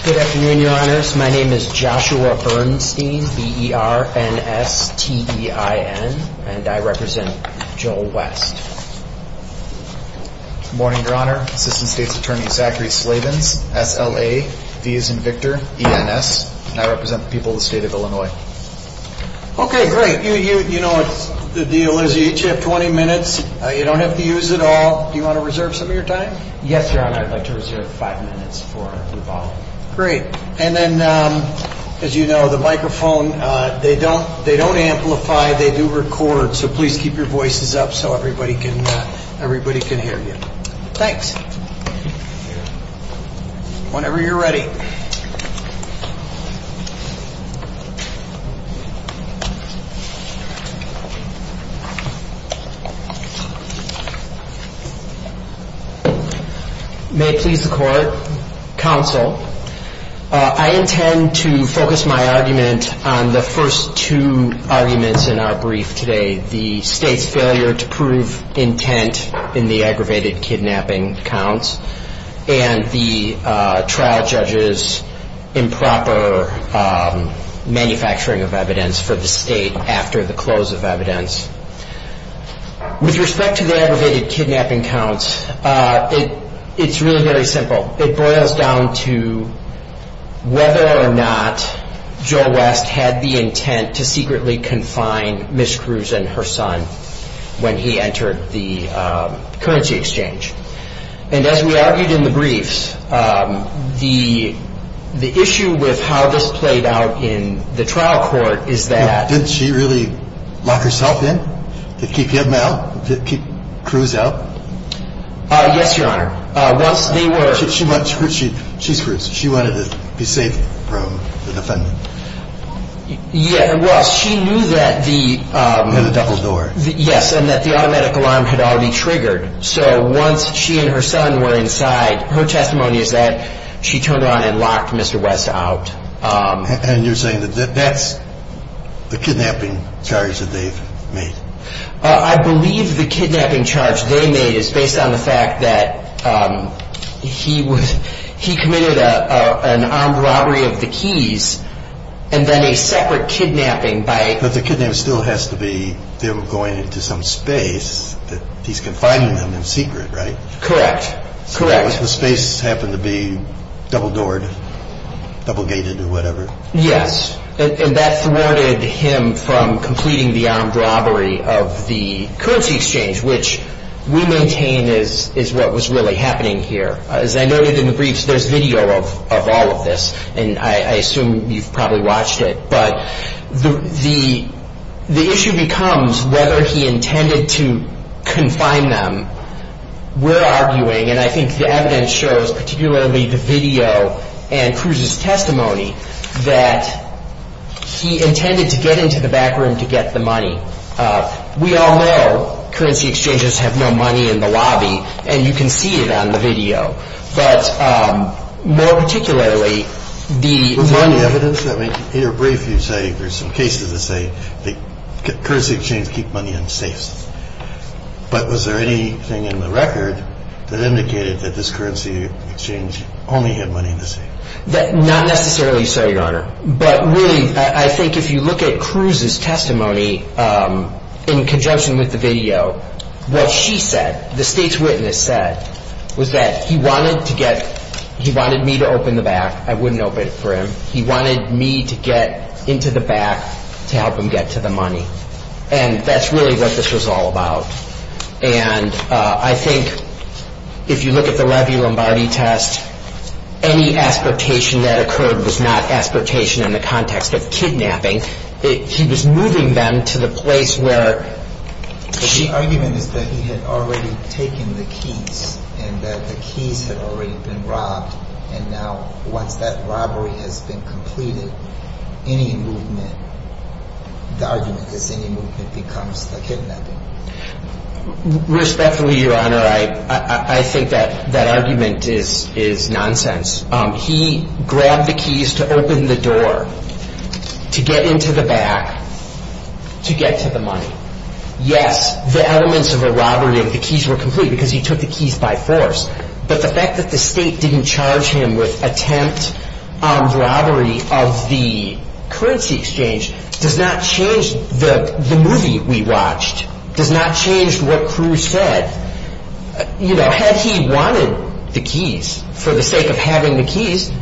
Good afternoon, your honors. My name is Joshua Bernstein, B-E-R-N-S-T-E-I-N, and I represent Joel West. Good morning, your honor. Assistant State's Attorney Zachary Slavens, S-L-A-V-I-S-N-V-I-C-T-E-R-E-N-S, and I represent the people of the state of Illinois. Okay, great. You know the deal is you each have 20 minutes. You don't have to use it all. Do you want to reserve some of your time? Yes, your honor. I'd like to reserve five minutes for rebuttal. Great. And then, as you know, the microphone, they don't amplify, they do record, so please keep your voices up so everybody can hear you. Thanks. Whenever you're ready. May it please the court, counsel, I intend to focus my argument on the first two arguments in our brief today, the state's failure to prove intent in the aggravated kidnapping counts and the trial judge's improper manufacturing of evidence for the state after the close of evidence. With respect to the aggravated kidnapping counts, it's really very simple. It boils down to whether or not Joe West had the intent to secretly confine Ms. Cruz and her son when he entered the currency exchange. And as we argued in the briefs, the issue with how this played out in the trial court is that... Didn't she really lock herself in to keep him out, to keep Cruz out? Yes, your honor. Once they were... She wanted to be safe from the defendant. Yeah, well, she knew that the... The double door. Yes, and that the automatic alarm had already triggered. So once she and her son were inside, her testimony is that she turned around and locked Mr. West out. And you're saying that that's the kidnapping charge that they've made? I believe the kidnapping charge they made is based on the fact that he committed an armed robbery of the keys and then a separate kidnapping by... But the kidnapping still has to be... They were going into some space that he's confining them in secret, right? Correct. Correct. The space happened to be double-doored, double-gated or whatever. Yes, and that thwarted him from completing the armed robbery of the currency exchange, which we maintain is what was really happening here. As I noted in the briefs, there's video of all of this, and I assume you've probably watched it. But the issue becomes whether he intended to confine them. We're arguing, and I think the evidence shows, particularly the video and Cruz's testimony, that he intended to get into the back room to get the money. We all know currency exchanges have no money in the lobby, and you can see it on the video. But more particularly, the... Was there any evidence? I mean, in your brief you say there's some cases that say that currency exchanges keep money in safes. But was there anything in the record that indicated that this currency exchange only had money in the safe? Not necessarily so, Your Honor. But really, I think if you look at Cruz's testimony in conjunction with the video, what she said, the state's witness said, was that he wanted to get, he wanted me to open the back. I wouldn't open it for him. He wanted me to get into the back to help him get to the money. And that's really what this was all about. And I think if you look at the Levy-Lombardi test, any aspirtation that occurred was not aspirtation in the context of kidnapping. He was moving them to the place where... The argument is that he had already taken the keys, and that the keys had already been robbed, and now once that robbery has been completed, any movement, the argument is any movement becomes the kidnapping. Respectfully, Your Honor, I think that argument is nonsense. He grabbed the keys to open the door to get into the back to get to the money. Yes, the elements of a robbery of the keys were complete because he took the keys by force. But the fact that the state didn't charge him with attempt on robbery of the currency exchange does not change the movie we watched, does not change what Cruz said. Had he wanted the keys for the sake of having the keys,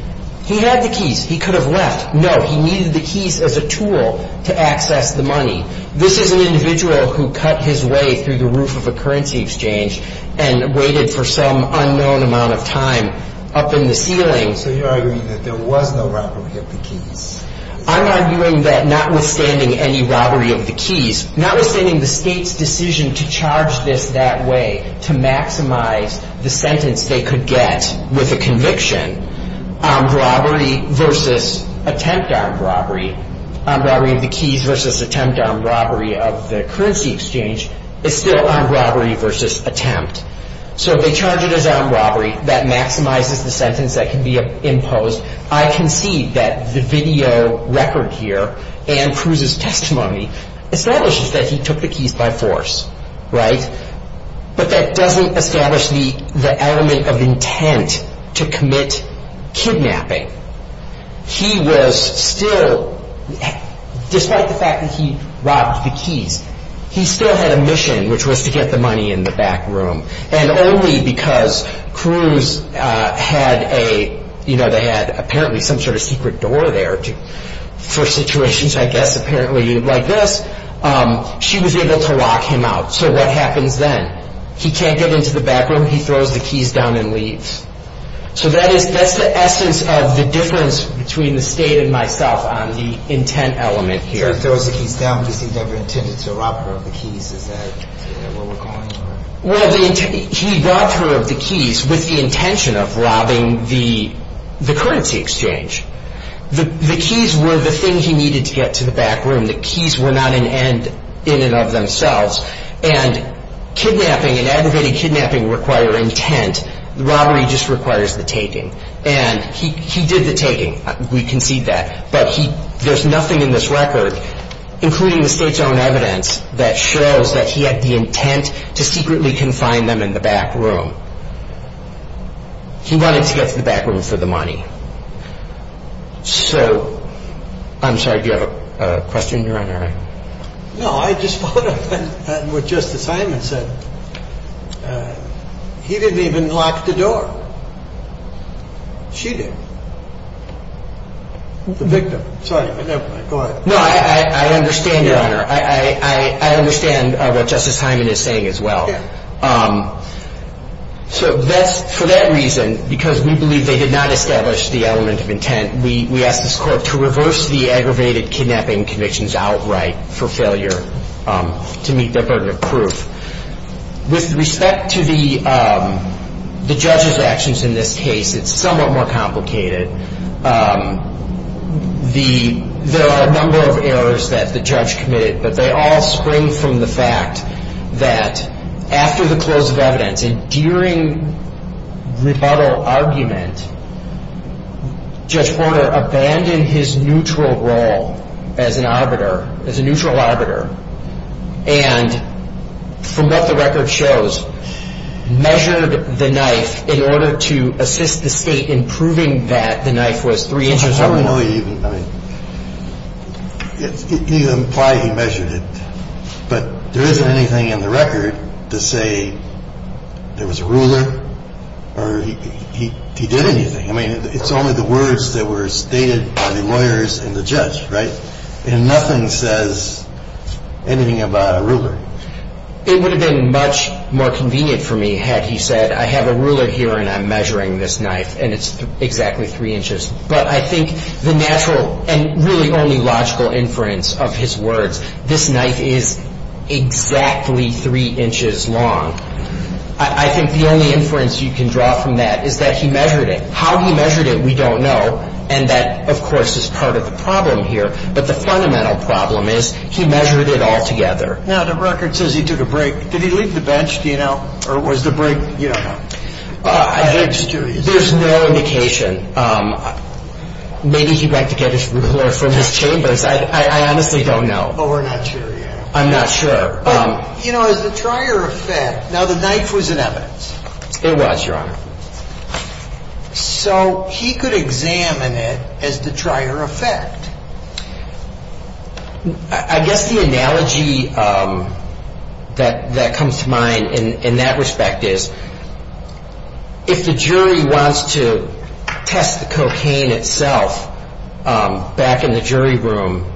he had the keys. He could have left. No, he needed the keys as a tool to access the money. This is an individual who cut his way through the roof of a currency exchange and waited for some unknown amount of time up in the ceiling. So you're arguing that there was no robbery of the keys? I'm arguing that notwithstanding any robbery of the keys, notwithstanding the state's decision to charge this that way to maximize the sentence they could get with a conviction, armed robbery versus attempt armed robbery, armed robbery of the keys versus attempt armed robbery of the currency exchange is still armed robbery versus attempt. So if they charge it as armed robbery, that maximizes the sentence that can be imposed. I concede that the video record here and Cruz's testimony establishes that he took the keys by force, right? But that doesn't establish the element of intent to commit kidnapping. He was still, despite the fact that he robbed the keys, he still had a mission which was to get the money in the back room. And only because Cruz had a, you know, they had apparently some sort of secret door there for situations, I guess, apparently like this, she was able to lock him out. So what happens then? He can't get into the back room. He throws the keys down and leaves. So that is, that's the essence of the difference between the state and myself on the intent element here. He throws the keys down because he never intended to rob her of the keys. Is that what we're calling it? Well, he robbed her of the keys with the intention of robbing the currency exchange. The keys were the thing he needed to get to the back room. The keys were not an end in and of themselves. And kidnapping and aggravated kidnapping require intent. Robbery just requires the taking. And he did the taking. We concede that. But he, there's nothing in this record, including the state's own evidence, that shows that he had the intent to secretly confine them in the back room. He wanted to get to the back room for the money. So, I'm sorry, do you have any comment on that? No, I just followed up on what Justice Hyman said. He didn't even lock the door. She did. The victim. Sorry, go ahead. No, I understand, Your Honor. I understand what Justice Hyman is saying as well. So that's, for that reason, because we believe they did not establish the element of intent, we asked this court to reverse the aggravated kidnapping convictions outright for failure to meet their burden of proof. With respect to the judge's actions in this case, it's somewhat more complicated. There are a number of errors that the judge committed, but they all spring from the fact that after the close of evidence and during rebuttal argument, Judge Porter abandoned his neutral role as an arbiter, as a neutral arbiter, and from what the record shows, measured the knife in order to assist the state in proving that the knife was three inches long. I don't know even, I mean, it doesn't imply he measured it, but there isn't anything in the record to say there was a ruler or he did anything. I mean, it's only the words that were stated by the lawyers and the judge, right? And nothing says anything about a ruler. It would have been much more convenient for me had he said I have a ruler here and I'm measuring this knife and it's exactly three inches. But I think the natural and really only logical inference of his words, this knife is exactly three inches long, I think the only inference you can draw from that is that he measured it. How he measured it we don't know. And that, of course, is part of the problem here. But the fundamental problem is he measured it all together. Now, the record says he did a break. Did he leave the bench, do you know? Or was the break, you don't know? There's no indication. Maybe he went to get his ruler from his chambers. I honestly don't know. Oh, we're not sure yet. I'm not sure. You know, as a trier of fact, now the knife was in evidence. It was, Your Honor. So he could examine it as the trier of fact. I guess the analogy that comes to mind in that respect is if the jury wants to test the cocaine itself back in the jury room,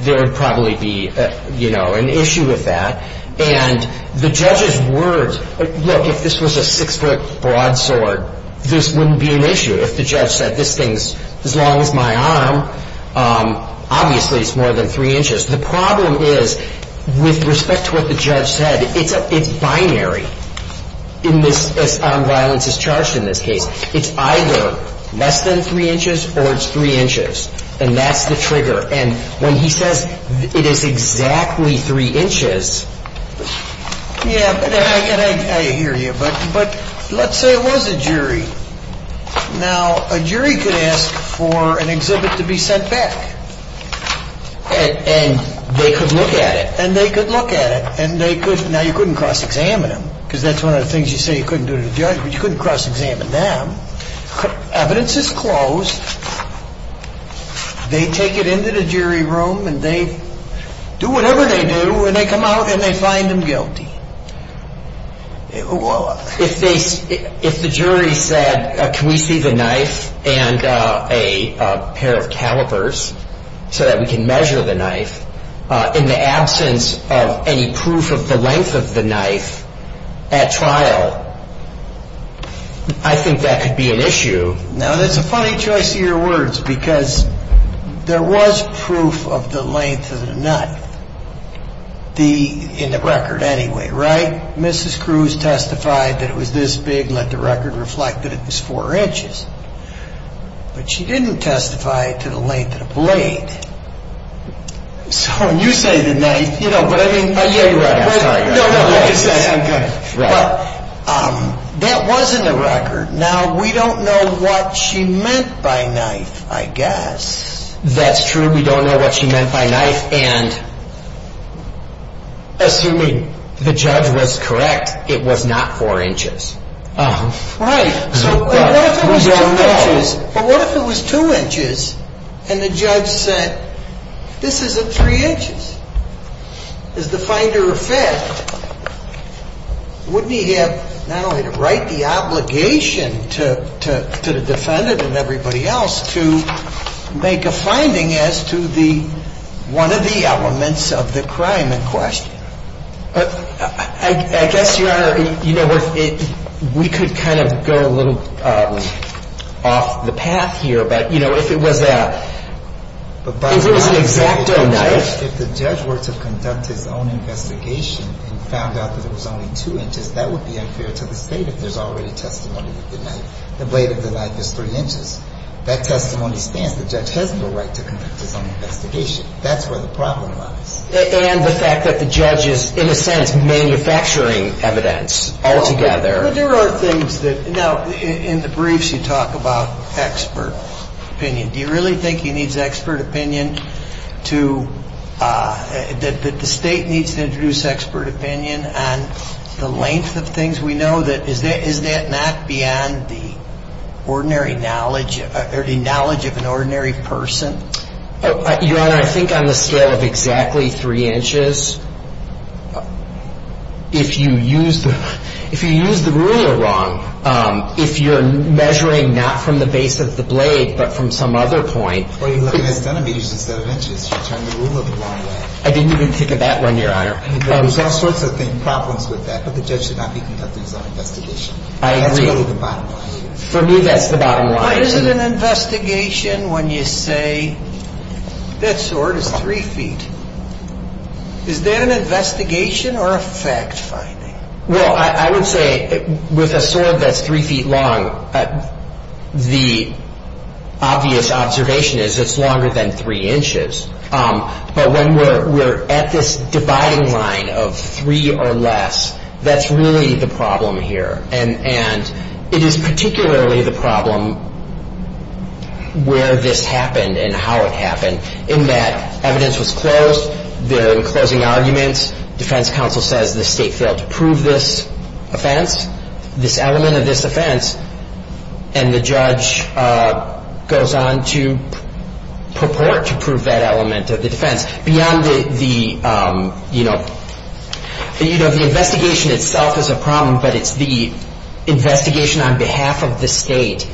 there would probably be, you know, an issue with that. And the judge's words, look, if this was a six-foot broadsword, this wouldn't be an issue. If the judge said this thing's as long as my arm, obviously it's more than three inches. The problem is with respect to what the judge said, it's binary in this, as armed violence is charged in this case. It's either less than three inches or it's three inches. And that's the trigger. And when he says it is exactly three inches. Yeah, but I hear you. But let's say it was a jury. Now, a jury could ask for an exhibit to be sent back. And they could look at it. And they could look at it. And they could. Now, you couldn't cross-examine them because that's one of the things you say you couldn't do to the judge, but you couldn't cross-examine them. Evidence is closed. They take it into the jury room and they do whatever they do and they come out and they find them guilty. If the jury said, can we see the knife and a pair of calipers so that we can measure the length of the knife in the absence of any proof of the length of the knife at trial, I think that could be an issue. Now, that's a funny choice of your words because there was proof of the length of the knife in the record anyway, right? Mrs. Cruz testified that it was this big and let the record reflect that it was four inches. But she didn't testify to the length of the blade. So when you say the knife, you know what I mean? Yeah, you're right. I'm sorry. No, no, I'm good. Well, that was in the record. Now, we don't know what she meant by knife, I guess. That's true. We don't know what she meant by knife. And assuming the judge was correct, it was not four inches. Right. So what if it was two inches and the judge said, this isn't three inches? As the finder of fact, wouldn't he have not only to write the obligation to the defendant and everybody else to make a finding as to one of the elements of the crime in question? I guess, Your Honor, we could kind of go a little off the path here. But if it was an exacto knife If the judge were to conduct his own investigation and found out that it was only two inches, that would be unfair to the State if there's already testimony that the blade of the knife is three inches. That testimony stands. The judge has no right to conduct his own investigation. That's where the problem lies. And the fact that the judge is, in a sense, manufacturing evidence altogether. But there are things that, now, in the briefs you talk about expert opinion. Do you really think he needs expert opinion to, that the State needs to introduce expert opinion on the length of things we know? Is that not beyond the ordinary knowledge, or the knowledge of an ordinary person? Your Honor, I think on the scale of exactly three inches, if you use the rule wrong, if you're measuring not from the base of the blade, but from some other point. Well, you're looking at centimeters instead of inches. You're turning the rule of the law away. I didn't even think of that one, Your Honor. There's all sorts of problems with that, but the judge should not be conducting his own investigation. I agree. That's really the bottom line. For me, that's the bottom line. Why is it an investigation when you say, that sword is three feet? Is that an investigation or a fact finding? Well, I would say, with a sword that's three feet long, the obvious observation is it's longer than three inches. But when we're at this dividing line of three or less, that's really the problem here. And it is particularly the problem where this happened and how it happened, in that evidence was closed, there were closing arguments, defense counsel says the state failed to prove this offense, this element of this offense, and the judge goes on to purport to prove that element of the defense. The investigation itself is a problem, but it's the investigation on behalf of the state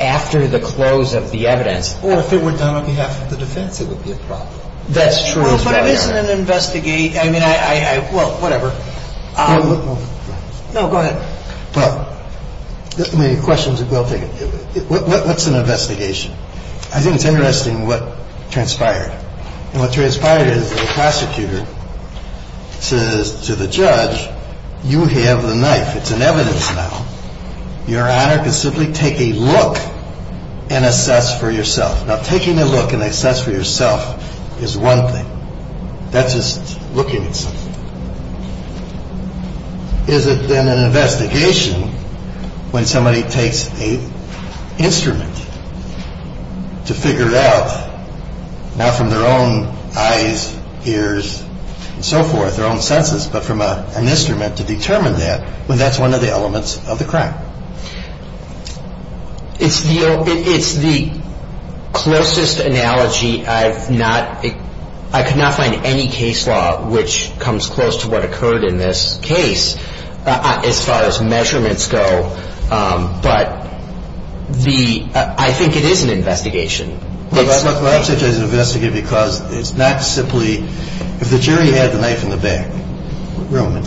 after the close of the evidence. Or if it were done on behalf of the defense, it would be a problem. That's true. But it isn't an investigation. I mean, I, well, whatever. No, go ahead. Well, the question is, what's an investigation? I think it's interesting what transpired. And what transpired is the prosecutor says to the judge, you have the knife. It's an evidence now. Your honor can simply take a look and assess for yourself. Now, taking a look and assess for yourself is one thing. That's just looking at something. Is it then an investigation when somebody takes a instrument to figure it out, not from their own eyes, ears, and so forth, their own senses, but from an instrument to determine that, when that's one of the elements of the crime? It's the closest analogy. I've not, I could not find any case law which comes close to what occurred in this case as far as measurements go. But the, I think it is an investigation. Well, I say it's an investigation because it's not simply, if the jury had the knife in the back room,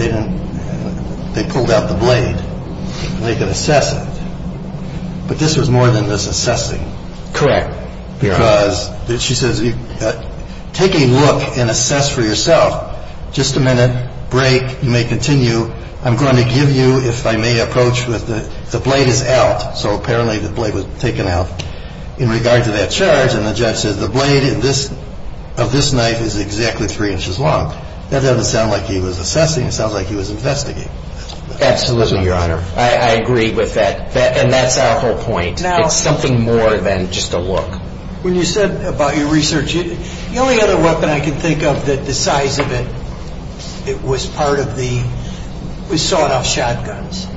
they pulled out the blade and they could assess it. But this was more than just assessing. Correct. Because she says, take a look and assess for yourself. Just a minute break. You may continue. I'm going to give you, if I may approach with the, the blade is out. So apparently the blade was taken out in regard to that charge. And the judge says the blade of this knife is exactly three inches long. That doesn't sound like he was assessing. It sounds like he was investigating. Absolutely, Your Honor. I agree with that. And that's our whole point. It's something more than just a look. When you said about your research, the only other weapon I can think of that the size of it, it was part of the, was sawed-off shotguns.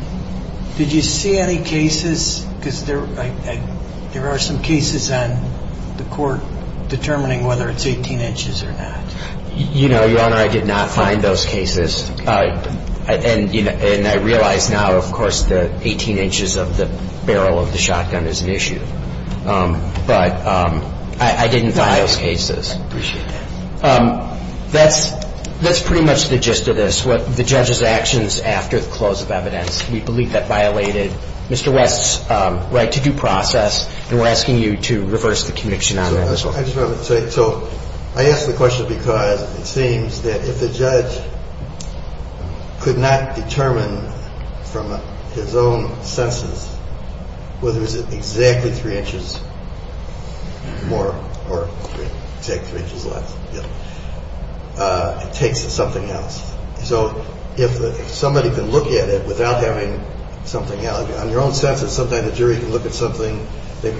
Did you see any cases? Because there are some cases on the court determining whether it's 18 inches or not. You know, Your Honor, I did not find those cases. And I realize now, of course, that 18 inches of the barrel of the shotgun is an issue. But I didn't find those cases. I appreciate that. That's pretty much the gist of this, what the judge's actions after the close of evidence. We believe that violated Mr. West's right to due process. And we're asking you to reverse the conviction on that. I just wanted to say, so I ask the question because it seems that if the judge could not determine from his own senses whether it was exactly three inches more or exactly three inches less, it takes something else. So if somebody can look at it without having something else, on your own sense, sometimes the jury can look at something. You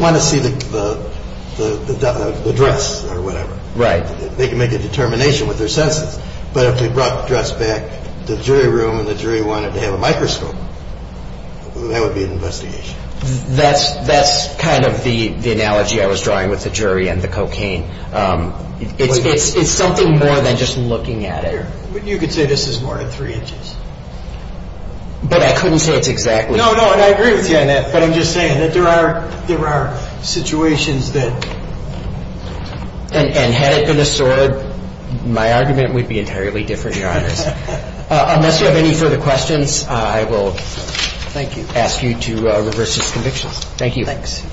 want to see the dress or whatever. Right. They can make a determination with their senses. But if they brought the dress back to the jury room and the jury wanted to have a microscope, that would be an investigation. That's kind of the analogy I was drawing with the jury and the cocaine. It's something more than just looking at it. You could say this is more than three inches. But I couldn't say it's exactly. No, no, and I agree with you on that. But I'm just saying that there are situations that. And had it been a sword, my argument would be entirely different, Your Honors. Unless you have any further questions, I will ask you to reverse his convictions. Thank you. Thanks.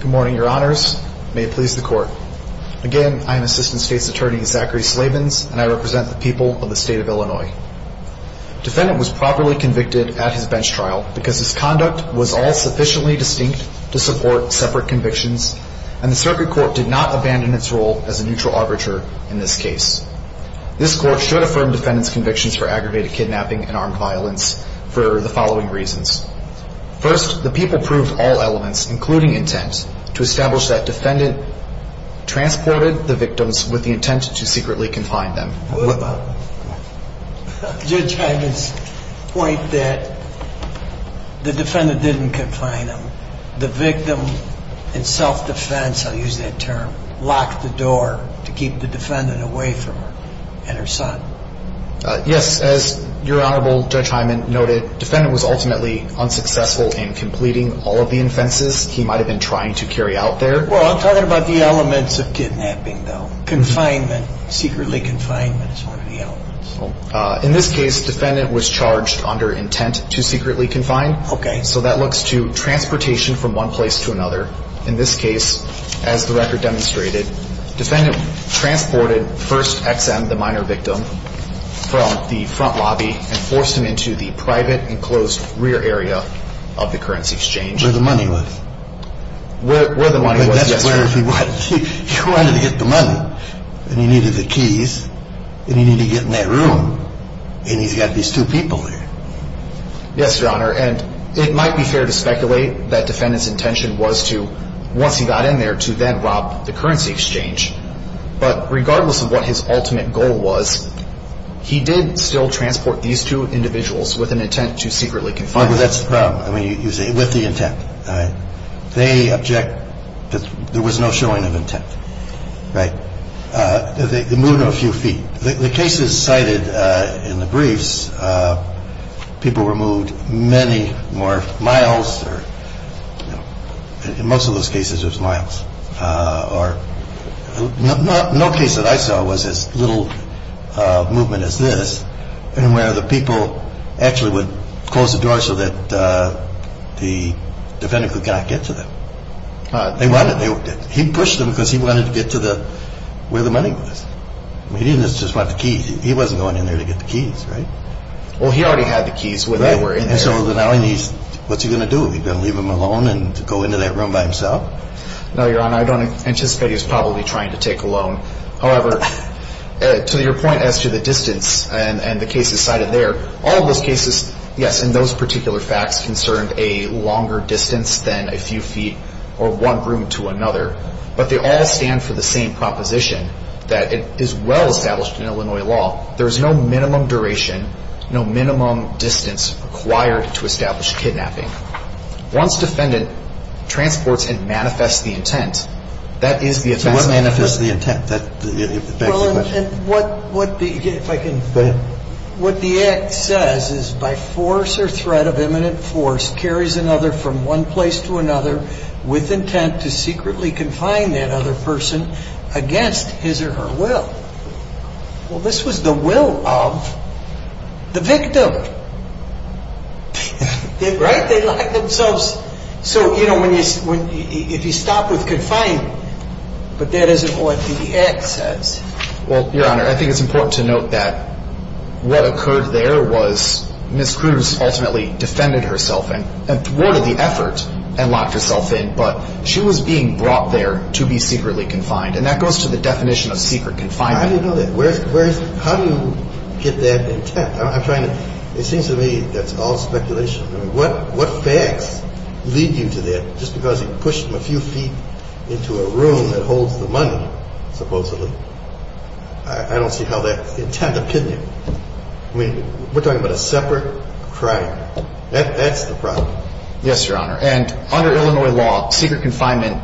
Good morning, Your Honors. May it please the Court. Again, I am Assistant State's Attorney, Zachary Slabins, and I represent the people of the state of Illinois. The defendant was properly convicted at his bench trial because his conduct was all sufficiently distinct to support separate convictions, and the circuit court did not abandon its role as a neutral arbiter in this case. This court should affirm the defendant's convictions for aggravated kidnapping and armed violence for the following reasons. First, the people proved all elements, including intent, to establish that defendant transported the victims with the intent to secretly confine them. Judge Hyman's point that the defendant didn't confine them. The victim in self-defense, I'll use that term, locked the door to keep the defendant away from her and her son. Yes, as Your Honorable Judge Hyman noted, defendant was ultimately unsuccessful in completing all of the offenses he might have been trying to carry out there. Well, I'm talking about the elements of kidnapping, though. Confinement, secretly confinement is one of the elements. In this case, defendant was charged under intent to secretly confine. Okay. So that looks to transportation from one place to another. In this case, as the record demonstrated, defendant transported first XM, the minor victim, from the front lobby and forced him into the private enclosed rear area of the currency exchange. Where the money was. Where the money was, yes, Your Honor. But that's where he wanted to get the money, and he needed the keys, and he needed to get in that room, and he's got these two people there. Yes, Your Honor, and it might be fair to speculate that defendant's intention was to, to get in there and then rob the currency exchange, but regardless of what his ultimate goal was, he did still transport these two individuals with an intent to secretly confine them. That's the problem. I mean, you say with the intent. They object that there was no showing of intent. Right. They moved him a few feet. The cases cited in the briefs, people were moved many more miles or, you know, most of those cases were miles or, no case that I saw was as little movement as this, and where the people actually would close the door so that the defendant could not get to them. They wanted, he pushed them because he wanted to get to the, where the money was. He didn't just want the keys. He wasn't going in there to get the keys, right? Well, he already had the keys when they were in there. Right, and so now he needs, what's he going to do? Are we going to leave him alone and go into that room by himself? No, Your Honor, I don't anticipate he was probably trying to take a loan. However, to your point as to the distance and the cases cited there, all of those cases, yes, and those particular facts concerned a longer distance than a few feet or one room to another, but they all stand for the same proposition that it is well established in Illinois law. There is no minimum duration, no minimum distance required to establish kidnapping. Once defendant transports and manifests the intent, that is the offense manifested. So what is the intent? That's the question. Well, and what the, if I can. Go ahead. What the act says is by force or threat of imminent force, carries another from one place to another with intent to secretly confine that other person against his or her will. Well, this was the will of the victim, right? They locked themselves. So, you know, if you stop with confined, but that isn't what the act says. Well, Your Honor, I think it's important to note that what occurred there was Ms. Cruz ultimately defended herself and thwarted the effort and locked herself in, but she was being brought there to be secretly confined, and that goes to the definition of secret confinement. How do you know that? How do you get that intent? I'm trying to, it seems to me that's all speculation. I mean, what facts lead you to that? Just because he pushed him a few feet into a room that holds the money, supposedly, I don't see how that's the intent opinion. I mean, we're talking about a separate crime. That's the problem. Yes, Your Honor. And under Illinois law, secret confinement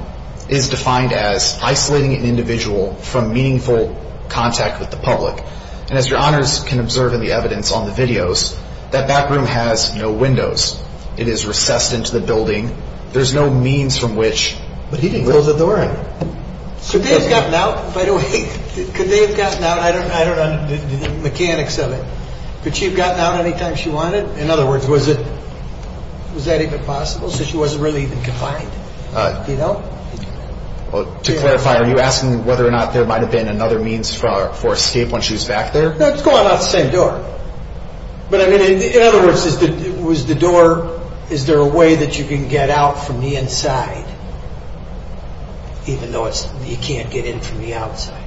is defined as isolating an individual from meaningful contact with the public. And as Your Honors can observe in the evidence on the videos, that back room has no windows. It is recessed into the building. There's no means from which. But he didn't close the door. Could they have gotten out, by the way? Could they have gotten out? I don't know the mechanics of it. Could she have gotten out any time she wanted? In other words, was that even possible? So she wasn't really even confined. Do you know? To clarify, are you asking whether or not there might have been another means for escape when she was back there? It's going out the same door. But in other words, was the door, is there a way that you can get out from the inside, even though you can't get in from the outside?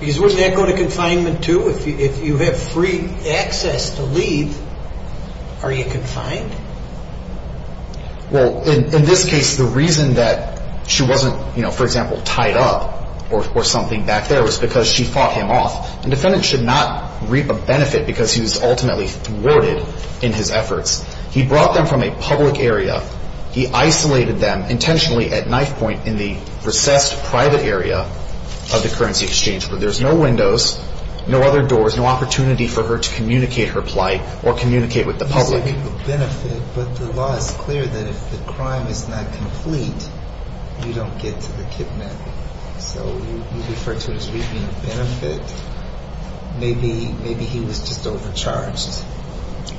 Because wouldn't that go to confinement, too? If you have free access to leave, are you confined? Well, in this case, the reason that she wasn't, for example, tied up or something back there was because she fought him off. And defendants should not reap a benefit because he was ultimately thwarted in his efforts. He brought them from a public area. He isolated them intentionally at knife point in the recessed private area of the currency exchange. But there's no windows, no other doors, no opportunity for her to communicate her plight or communicate with the public. You say reap a benefit, but the law is clear that if the crime is not complete, you don't get to the kidnapping. So you refer to it as reaping a benefit. Maybe he was just overcharged.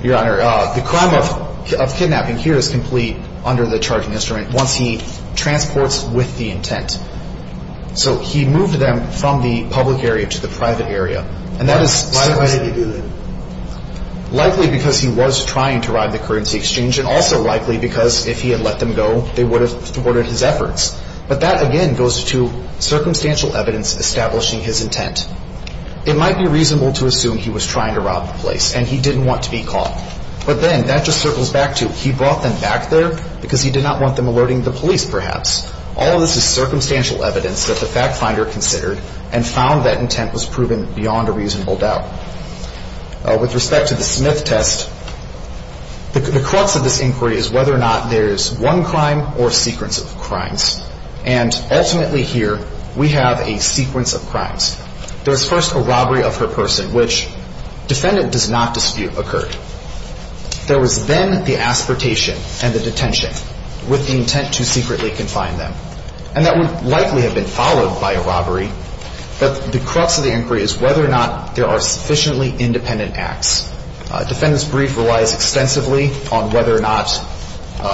Your Honor, the crime of kidnapping here is complete under the charging instrument once he transports with the intent. So he moved them from the public area to the private area. Why would he do that? Likely because he was trying to rob the currency exchange and also likely because if he had let them go, they would have thwarted his efforts. But that, again, goes to circumstantial evidence establishing his intent. It might be reasonable to assume he was trying to rob the place and he didn't want to be caught. But then that just circles back to he brought them back there because he did not want them alerting the police, perhaps. All of this is circumstantial evidence that the fact finder considered and found that intent was proven beyond a reasonable doubt. With respect to the Smith test, the crux of this inquiry is whether or not there is one crime or a sequence of crimes. And ultimately here we have a sequence of crimes. There is first a robbery of her person, which defendant does not dispute occurred. There was then the aspertation and the detention with the intent to secretly confine them. And that would likely have been followed by a robbery. But the crux of the inquiry is whether or not there are sufficiently independent acts. Defendant's brief relies extensively on whether or not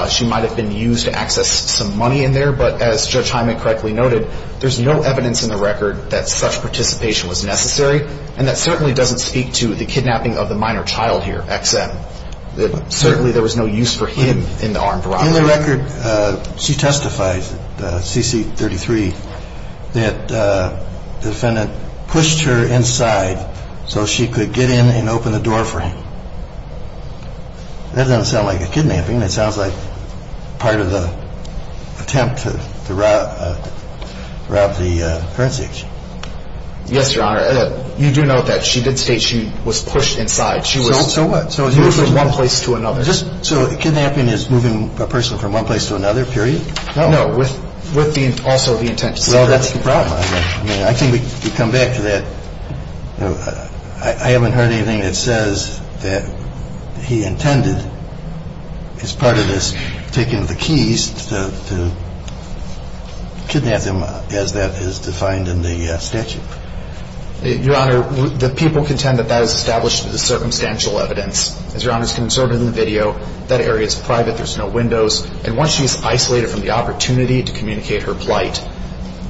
she might have been used to access some money in there. But as Judge Hyman correctly noted, there's no evidence in the record that such participation was necessary. And that certainly doesn't speak to the kidnapping of the minor child here, XM. Certainly there was no use for him in the armed robbery. In the record she testifies, CC33, that defendant pushed her inside so she could get in and open the door for him. That doesn't sound like a kidnapping. That sounds like part of the attempt to rob the currency exchange. Yes, Your Honor. You do know that she did state she was pushed inside. So what? She was moved from one place to another. So kidnapping is moving a person from one place to another, period? No. No. With also the intent to secretly. Well, that's the problem. I mean, I think we come back to that. I haven't heard anything that says that he intended as part of this taking the keys to kidnap them as that is defined in the statute. Your Honor, the people contend that that is established as the circumstantial evidence. As Your Honor's concerned in the video, that area is private. There's no windows. And once she's isolated from the opportunity to communicate her plight,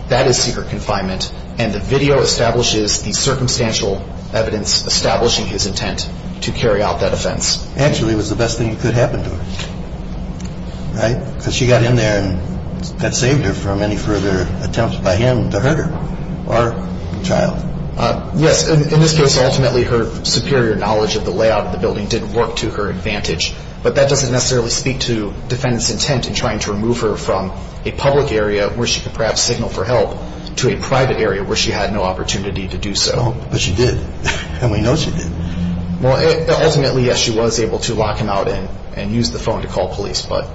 that is secret confinement. And the video establishes the circumstantial evidence establishing his intent to carry out that offense. Actually, it was the best thing that could happen to her, right? Because she got in there and that saved her from any further attempts by him to hurt her or the child. Yes. In this case, ultimately, her superior knowledge of the layout of the building didn't work to her advantage. But that doesn't necessarily speak to defendant's intent in trying to remove her from a public area where she could perhaps signal for help to a private area where she had no opportunity to do so. But she did. And we know she did. Well, ultimately, yes, she was able to lock him out and use the phone to call police. But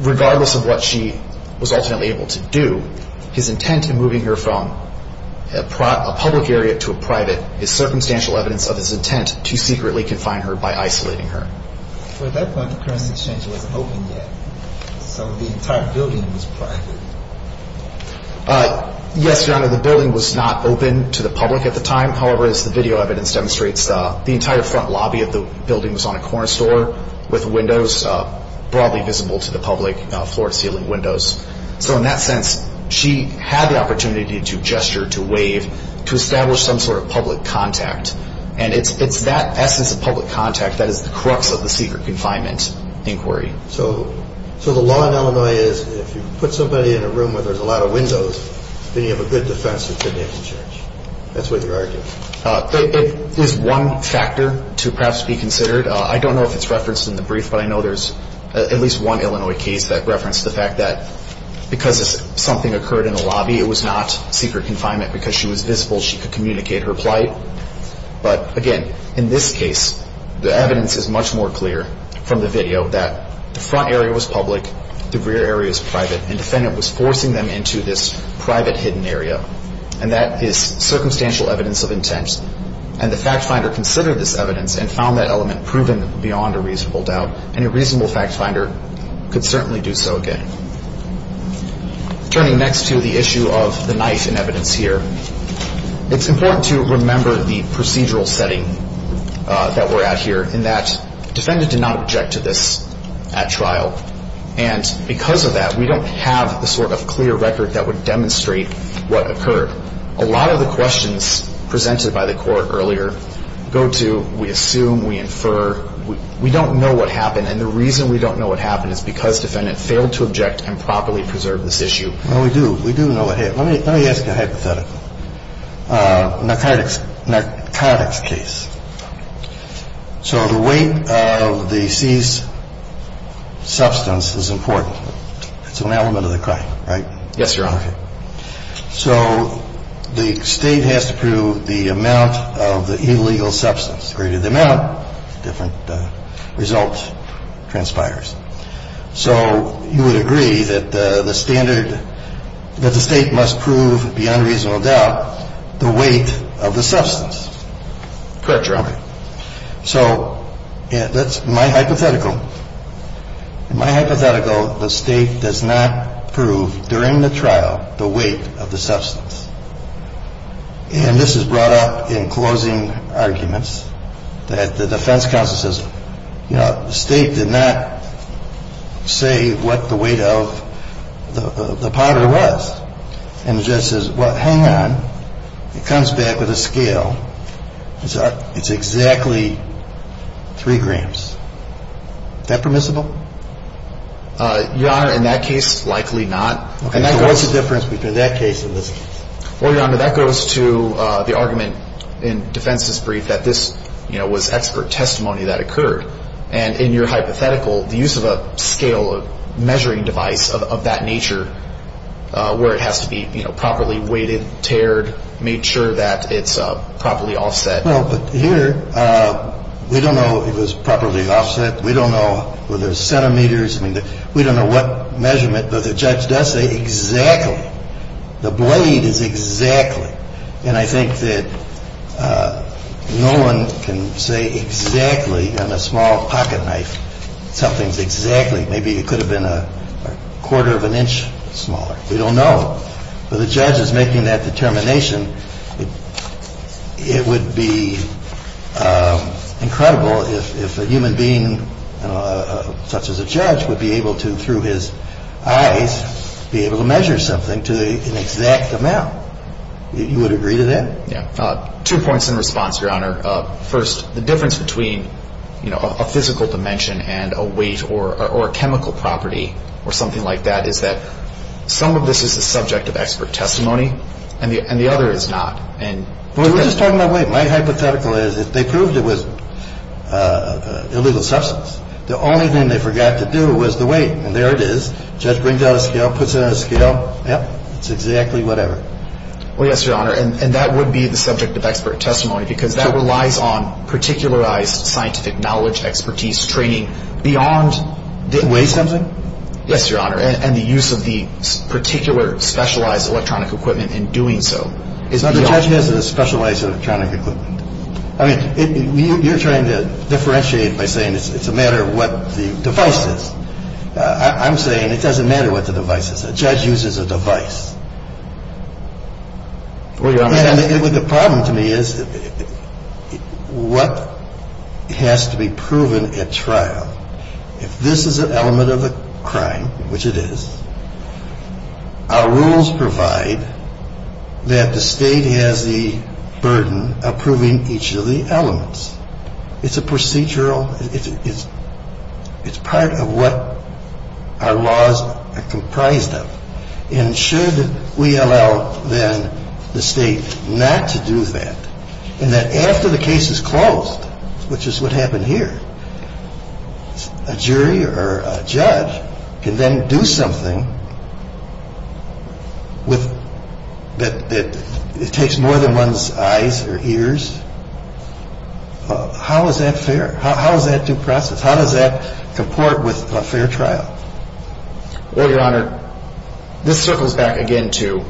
regardless of what she was ultimately able to do, his intent in moving her from a public area to a private is circumstantial evidence of his intent to secretly confine her by isolating her. Well, at that point, the currency exchange wasn't open yet. So the entire building was private. Yes, Your Honor. The building was not open to the public at the time. However, as the video evidence demonstrates, the entire front lobby of the building was on a corner store with windows broadly visible to the public, floor-to-ceiling windows. So in that sense, she had the opportunity to gesture, to wave, to establish some sort of public contact. And it's that essence of public contact that is the crux of the secret confinement inquiry. So the law in Illinois is if you put somebody in a room where there's a lot of windows, then you have a good defense that they're being charged. That's what you're arguing? It is one factor to perhaps be considered. I don't know if it's referenced in the brief, but I know there's at least one Illinois case that referenced the fact that because something occurred in the lobby, it was not secret confinement. Because she was visible, she could communicate her plight. But again, in this case, the evidence is much more clear from the video that the front area was public, the rear area is private, and the defendant was forcing them into this private hidden area. And that is circumstantial evidence of intent. And the fact finder considered this evidence and found that element proven beyond a reasonable doubt. And a reasonable fact finder could certainly do so again. Turning next to the issue of the knife in evidence here. It's important to remember the procedural setting that we're at here in that defendant did not object to this at trial. And because of that, we don't have the sort of clear record that would demonstrate what occurred. A lot of the questions presented by the court earlier go to we assume, we infer, we don't know what happened. And the reason we don't know what happened is because defendant failed to object and properly preserve this issue. Well, we do. We do know what happened. Let me ask you a hypothetical. Narcotics case. So the weight of the seized substance is important. It's an element of the crime, right? Yes, Your Honor. Okay. So the State has to prove the amount of the illegal substance. Correct. So you would agree that the standard that the State must prove beyond reasonable doubt, the weight of the substance? Correct, Your Honor. So my hypothetical. In my hypothetical, the State does not prove during the trial the weight of the substance. And this is brought up in closing arguments that the defense counsel says, you know, the State did not say what the weight of the powder was. And the judge says, well, hang on. It comes back with a scale. It's exactly three grams. Is that permissible? Your Honor, in that case, likely not. So what's the difference between that case and this case? Well, Your Honor, that goes to the argument in defense's brief that this, you know, was expert testimony that occurred. And in your hypothetical, the use of a scale, a measuring device of that nature where it has to be, you know, properly weighted, tared, made sure that it's properly offset. Well, but here, we don't know if it was properly offset. We don't know were there centimeters. I mean, we don't know what measurement, but the judge does say exactly. The blade is exactly. And I think that no one can say exactly on a small pocket knife. Something's exactly. Maybe it could have been a quarter of an inch smaller. We don't know. But the judge is making that determination. It would be incredible if a human being such as a judge would be able to, through his eyes, be able to measure something to an exact amount. You would agree to that? Yeah. Two points in response, Your Honor. First, the difference between, you know, a physical dimension and a weight or a chemical property or something like that is that some of this is the subject of expert testimony and the other is not. We're just talking about weight. My hypothetical is if they proved it was illegal substance, the only thing they forgot to do was the weight. And there it is. The judge brings out a scale, puts it on a scale. Yep. It's exactly whatever. Well, yes, Your Honor. And that would be the subject of expert testimony because that relies on particularized scientific knowledge, expertise, training beyond. To weigh something? Yes, Your Honor. And the use of the particular specialized electronic equipment in doing so is beyond. So the judge has a specialized electronic equipment. I mean, you're trying to differentiate by saying it's a matter of what the device is. I'm saying it doesn't matter what the device is. A judge uses a device. Well, Your Honor. And the problem to me is what has to be proven at trial. If this is an element of a crime, which it is, our rules provide that the State has the burden of proving each of the elements. It's a procedural. It's part of what our laws are comprised of. And should we allow, then, the State not to do that and that after the case is closed, which is what happened here, a jury or a judge can then do something that takes more than one's eyes or ears? How is that fair? How is that due process? How does that comport with a fair trial? Well, Your Honor, this circles back again to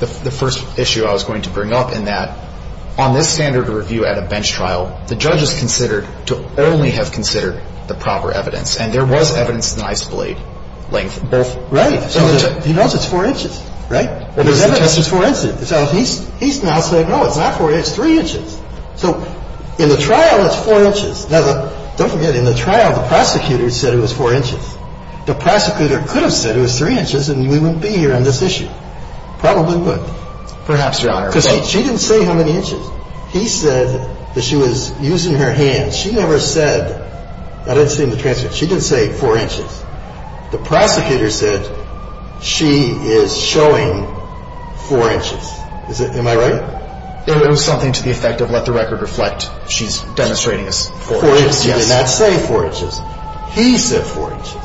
the first issue I was going to bring up in that on this standard review at a bench trial, the judge is considered to only have considered the proper evidence. And there was evidence in the knife's blade length. Right. He knows it's four inches, right? It's four inches. So he's now saying, no, it's not four inches, it's three inches. So in the trial, it's four inches. Now, don't forget, in the trial, the prosecutor said it was four inches. The prosecutor could have said it was three inches and we wouldn't be here on this issue. Probably would. Perhaps, Your Honor. Because she didn't say how many inches. He said that she was using her hands. She never said, I didn't see in the transcript, she didn't say four inches. The prosecutor said she is showing four inches. Am I right? It was something to the effect of let the record reflect. She's demonstrating a four inches. Four inches. She did not say four inches. He said four inches.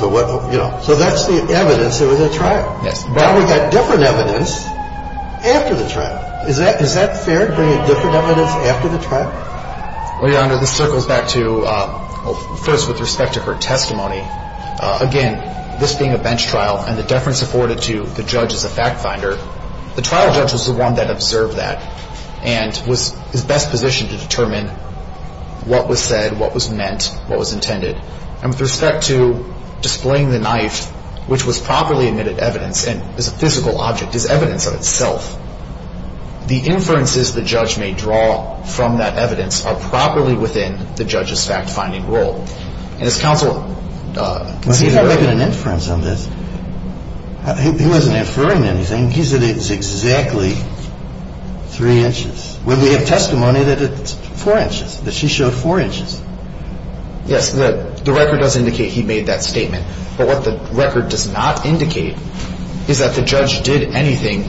So that's the evidence that was in the trial. Yes. Now we've got different evidence after the trial. Is that fair to bring in different evidence after the trial? Well, Your Honor, this circles back to, first, with respect to her testimony. Again, this being a bench trial and the deference afforded to the judge as a fact finder, the trial judge was the one that observed that and was best positioned to determine what was said, what was meant, what was intended. And with respect to displaying the knife, which was properly admitted evidence and is a physical object, is evidence of itself, the inferences the judge may draw from that evidence are properly within the judge's fact-finding role. And as counsel can see here. But he's not making an inference on this. He wasn't inferring anything. He said it was exactly three inches. When we have testimony that it's four inches, that she showed four inches. Yes, the record does indicate he made that statement. But what the record does not indicate is that the judge did anything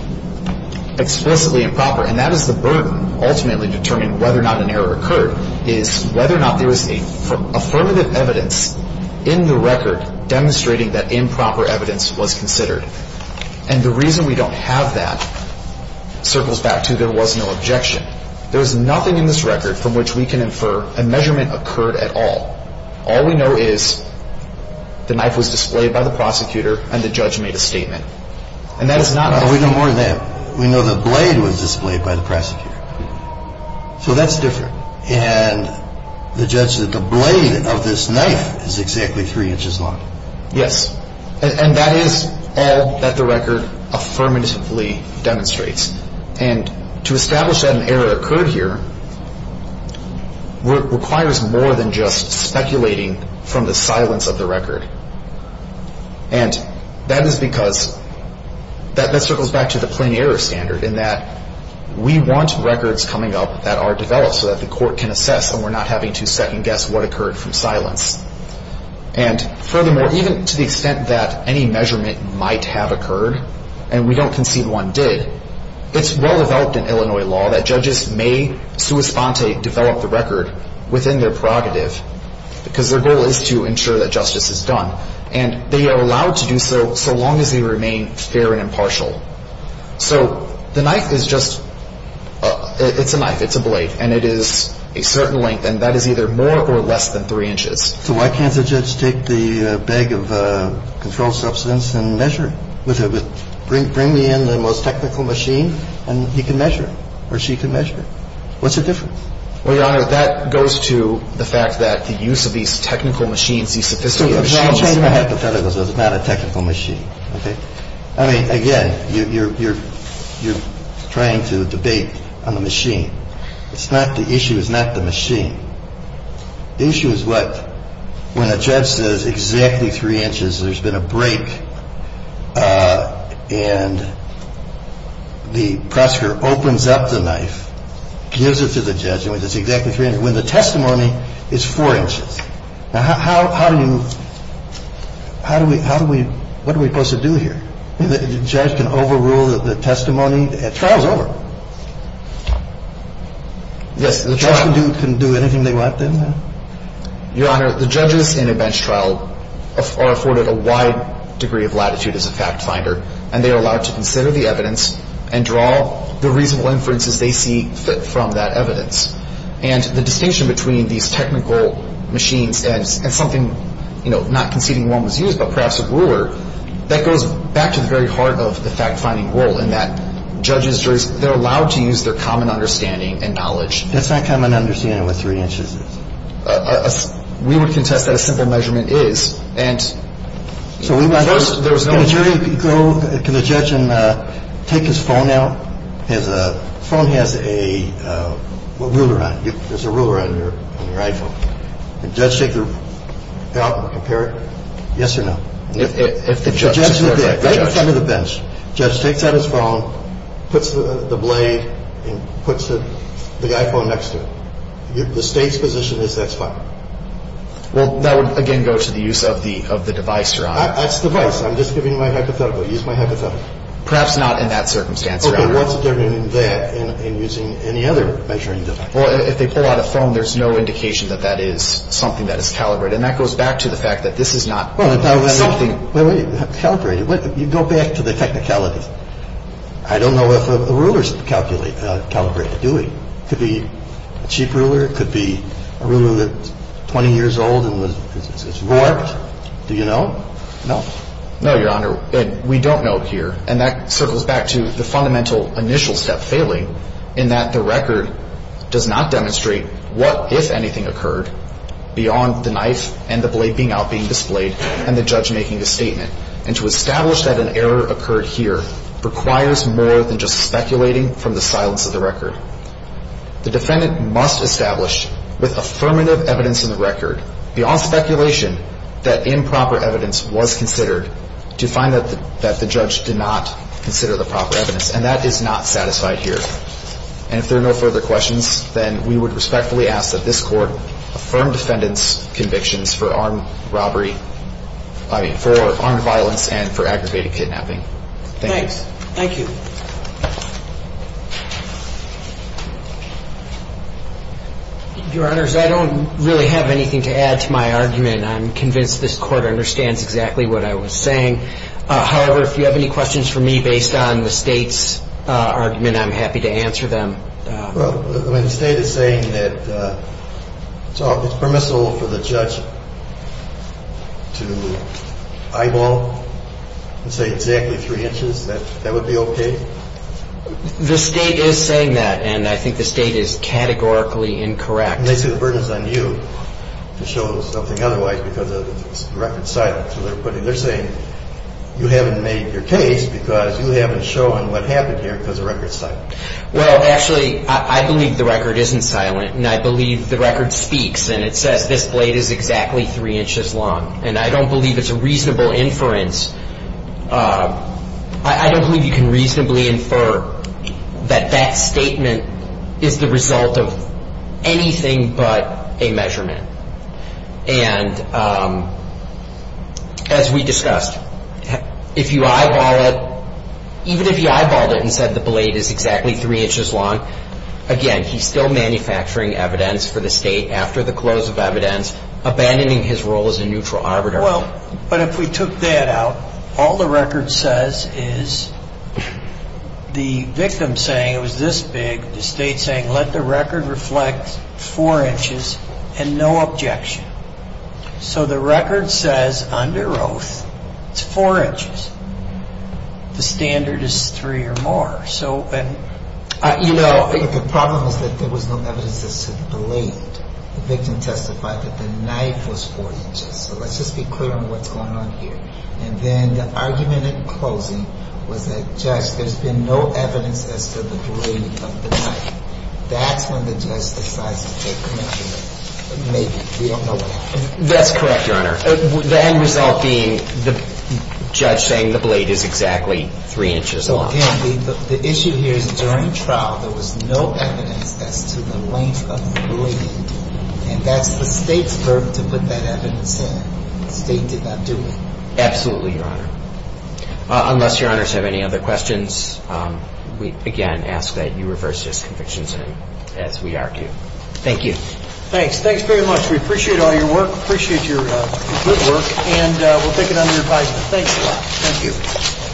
explicitly improper. And that is the burden ultimately determining whether or not an error occurred, is whether or not there was affirmative evidence in the record demonstrating that improper evidence was considered. And the reason we don't have that circles back to there was no objection. There is nothing in this record from which we can infer a measurement occurred at all. All we know is the knife was displayed by the prosecutor and the judge made a statement. And that is not enough. We know more than that. We know the blade was displayed by the prosecutor. So that's different. And the judge said the blade of this knife is exactly three inches long. Yes. And that is all that the record affirmatively demonstrates. And to establish that an error occurred here requires more than just speculating from the silence of the record. And that is because that circles back to the plain error standard in that we want records coming up that are developed so that the court can assess and we're not having to second guess what occurred from silence. And furthermore, even to the extent that any measurement might have occurred and we don't concede one did, it's well-developed in Illinois law that judges may sua sponte develop the record within their prerogative because their goal is to ensure that justice is done. And they are allowed to do so so long as they remain fair and impartial. So the knife is just a knife. It's a blade. And it is a certain length, and that is either more or less than three inches. So why can't the judge take the bag of controlled substance and measure it? Bring me in the most technical machine and he can measure it or she can measure it. What's the difference? Well, Your Honor, that goes to the fact that the use of these technical machines, these sophisticated machines. I'll tell you my hypotheticals. It's not a technical machine. Okay? I mean, again, you're trying to debate on the machine. It's not the issue. It's not the machine. The issue is what, when a judge says exactly three inches, there's been a break, and the prosecutor opens up the knife, gives it to the judge, and it's exactly three inches, when the testimony is four inches. Now, how do you, how do we, what are we supposed to do here? The judge can overrule the testimony. The trial's over. Yes. The judge can do anything they want then? Your Honor, the judges in a bench trial are afforded a wide degree of latitude as a fact finder, and they are allowed to consider the evidence and draw the reasonable inferences they see fit from that evidence. And the distinction between these technical machines and something, you know, not conceding one was used but perhaps a ruler, that goes back to the very heart of the fact-finding role, and that judges, juries, they're allowed to use their common understanding and knowledge. That's not common understanding what three inches is. We would contest that a simple measurement is. And there was no- Can a jury go, can a judge take his phone out? His phone has a ruler on it. There's a ruler on your iPhone. Can a judge take it out and compare it? Yes or no? If the judge- If the judge takes the phone out and compares it, does the judge think that the phone is a good measurement? No. The judge would say, no, that's wrong, puts the blade and puts the iPhone next to it. The State's position is that's fine. Well, that would again go to the use of the device, Your Honor. That's the device. I'm just giving you my hypothetical. Use my hypothetical. Perhaps not in that circumstance, Your Honor. What's the difference between that and using any other measuring device? Well, if they pull out a phone, there's no indication that that is something that is calibrated. And that goes back to the fact that this is not something- Calibrate it. You go back to the technicalities. I don't know if a ruler is calibrated, do we? It could be a cheap ruler. It could be a ruler that's 20 years old and it's warped. Do you know? No. No, Your Honor. We don't know here. And that circles back to the fundamental initial step, failing, in that the record does not demonstrate what, if anything, occurred beyond the knife and the blade being out, being displayed, and the judge making a statement. And to establish that an error occurred here requires more than just speculating from the silence of the record. The defendant must establish, with affirmative evidence in the record, beyond speculation, that improper evidence was considered, to find that the judge did not consider the proper evidence. And that is not satisfied here. And if there are no further questions, then we would respectfully ask that this Court affirm defendant's convictions for armed robbery- I mean, for armed violence and for aggravated kidnapping. Thank you. Thanks. Thank you. Your Honors, I don't really have anything to add to my argument. I'm convinced this Court understands exactly what I was saying. However, if you have any questions for me based on the State's argument, I'm happy to answer them. Well, the State is saying that it's permissible for the judge to eyeball and say exactly three inches. That would be okay? The State is saying that, and I think the State is categorically incorrect. And they say the burden is on you to show something otherwise because the record's silent. So they're saying you haven't made your case because you haven't shown what happened here because the record's silent. Well, actually, I believe the record isn't silent, and I believe the record speaks, and it says this blade is exactly three inches long. And I don't believe it's a reasonable inference. I don't believe you can reasonably infer that that statement is the result of anything but a measurement. And as we discussed, if you eyeball it, even if you eyeballed it and said the blade is exactly three inches long, again, he's still manufacturing evidence for the State after the close of evidence, abandoning his role as a neutral arbiter. Well, but if we took that out, all the record says is the victim saying it was this big, the State saying let the record reflect four inches and no objection. So the record says under oath it's four inches. The standard is three or more. So, and, you know. But the problem is that there was no evidence that said the blade. The victim testified that the knife was four inches. So let's just be clear on what's going on here. And then the argument in closing was that, Judge, there's been no evidence as to the blade of the knife. That's when the judge decides to take comment here. Maybe. We don't know what happened. That's correct, Your Honor. The end result being the judge saying the blade is exactly three inches long. Well, again, the issue here is during trial there was no evidence as to the length of the blade. And that's the State's verb to put that evidence in. The State did not do it. Absolutely, Your Honor. Unless Your Honors have any other questions, we, again, ask that you reverse this conviction as we argue. Thank you. Thanks. Thanks very much. We appreciate all your work, appreciate your good work, and we'll take it under your guidance. Thanks a lot. Thank you.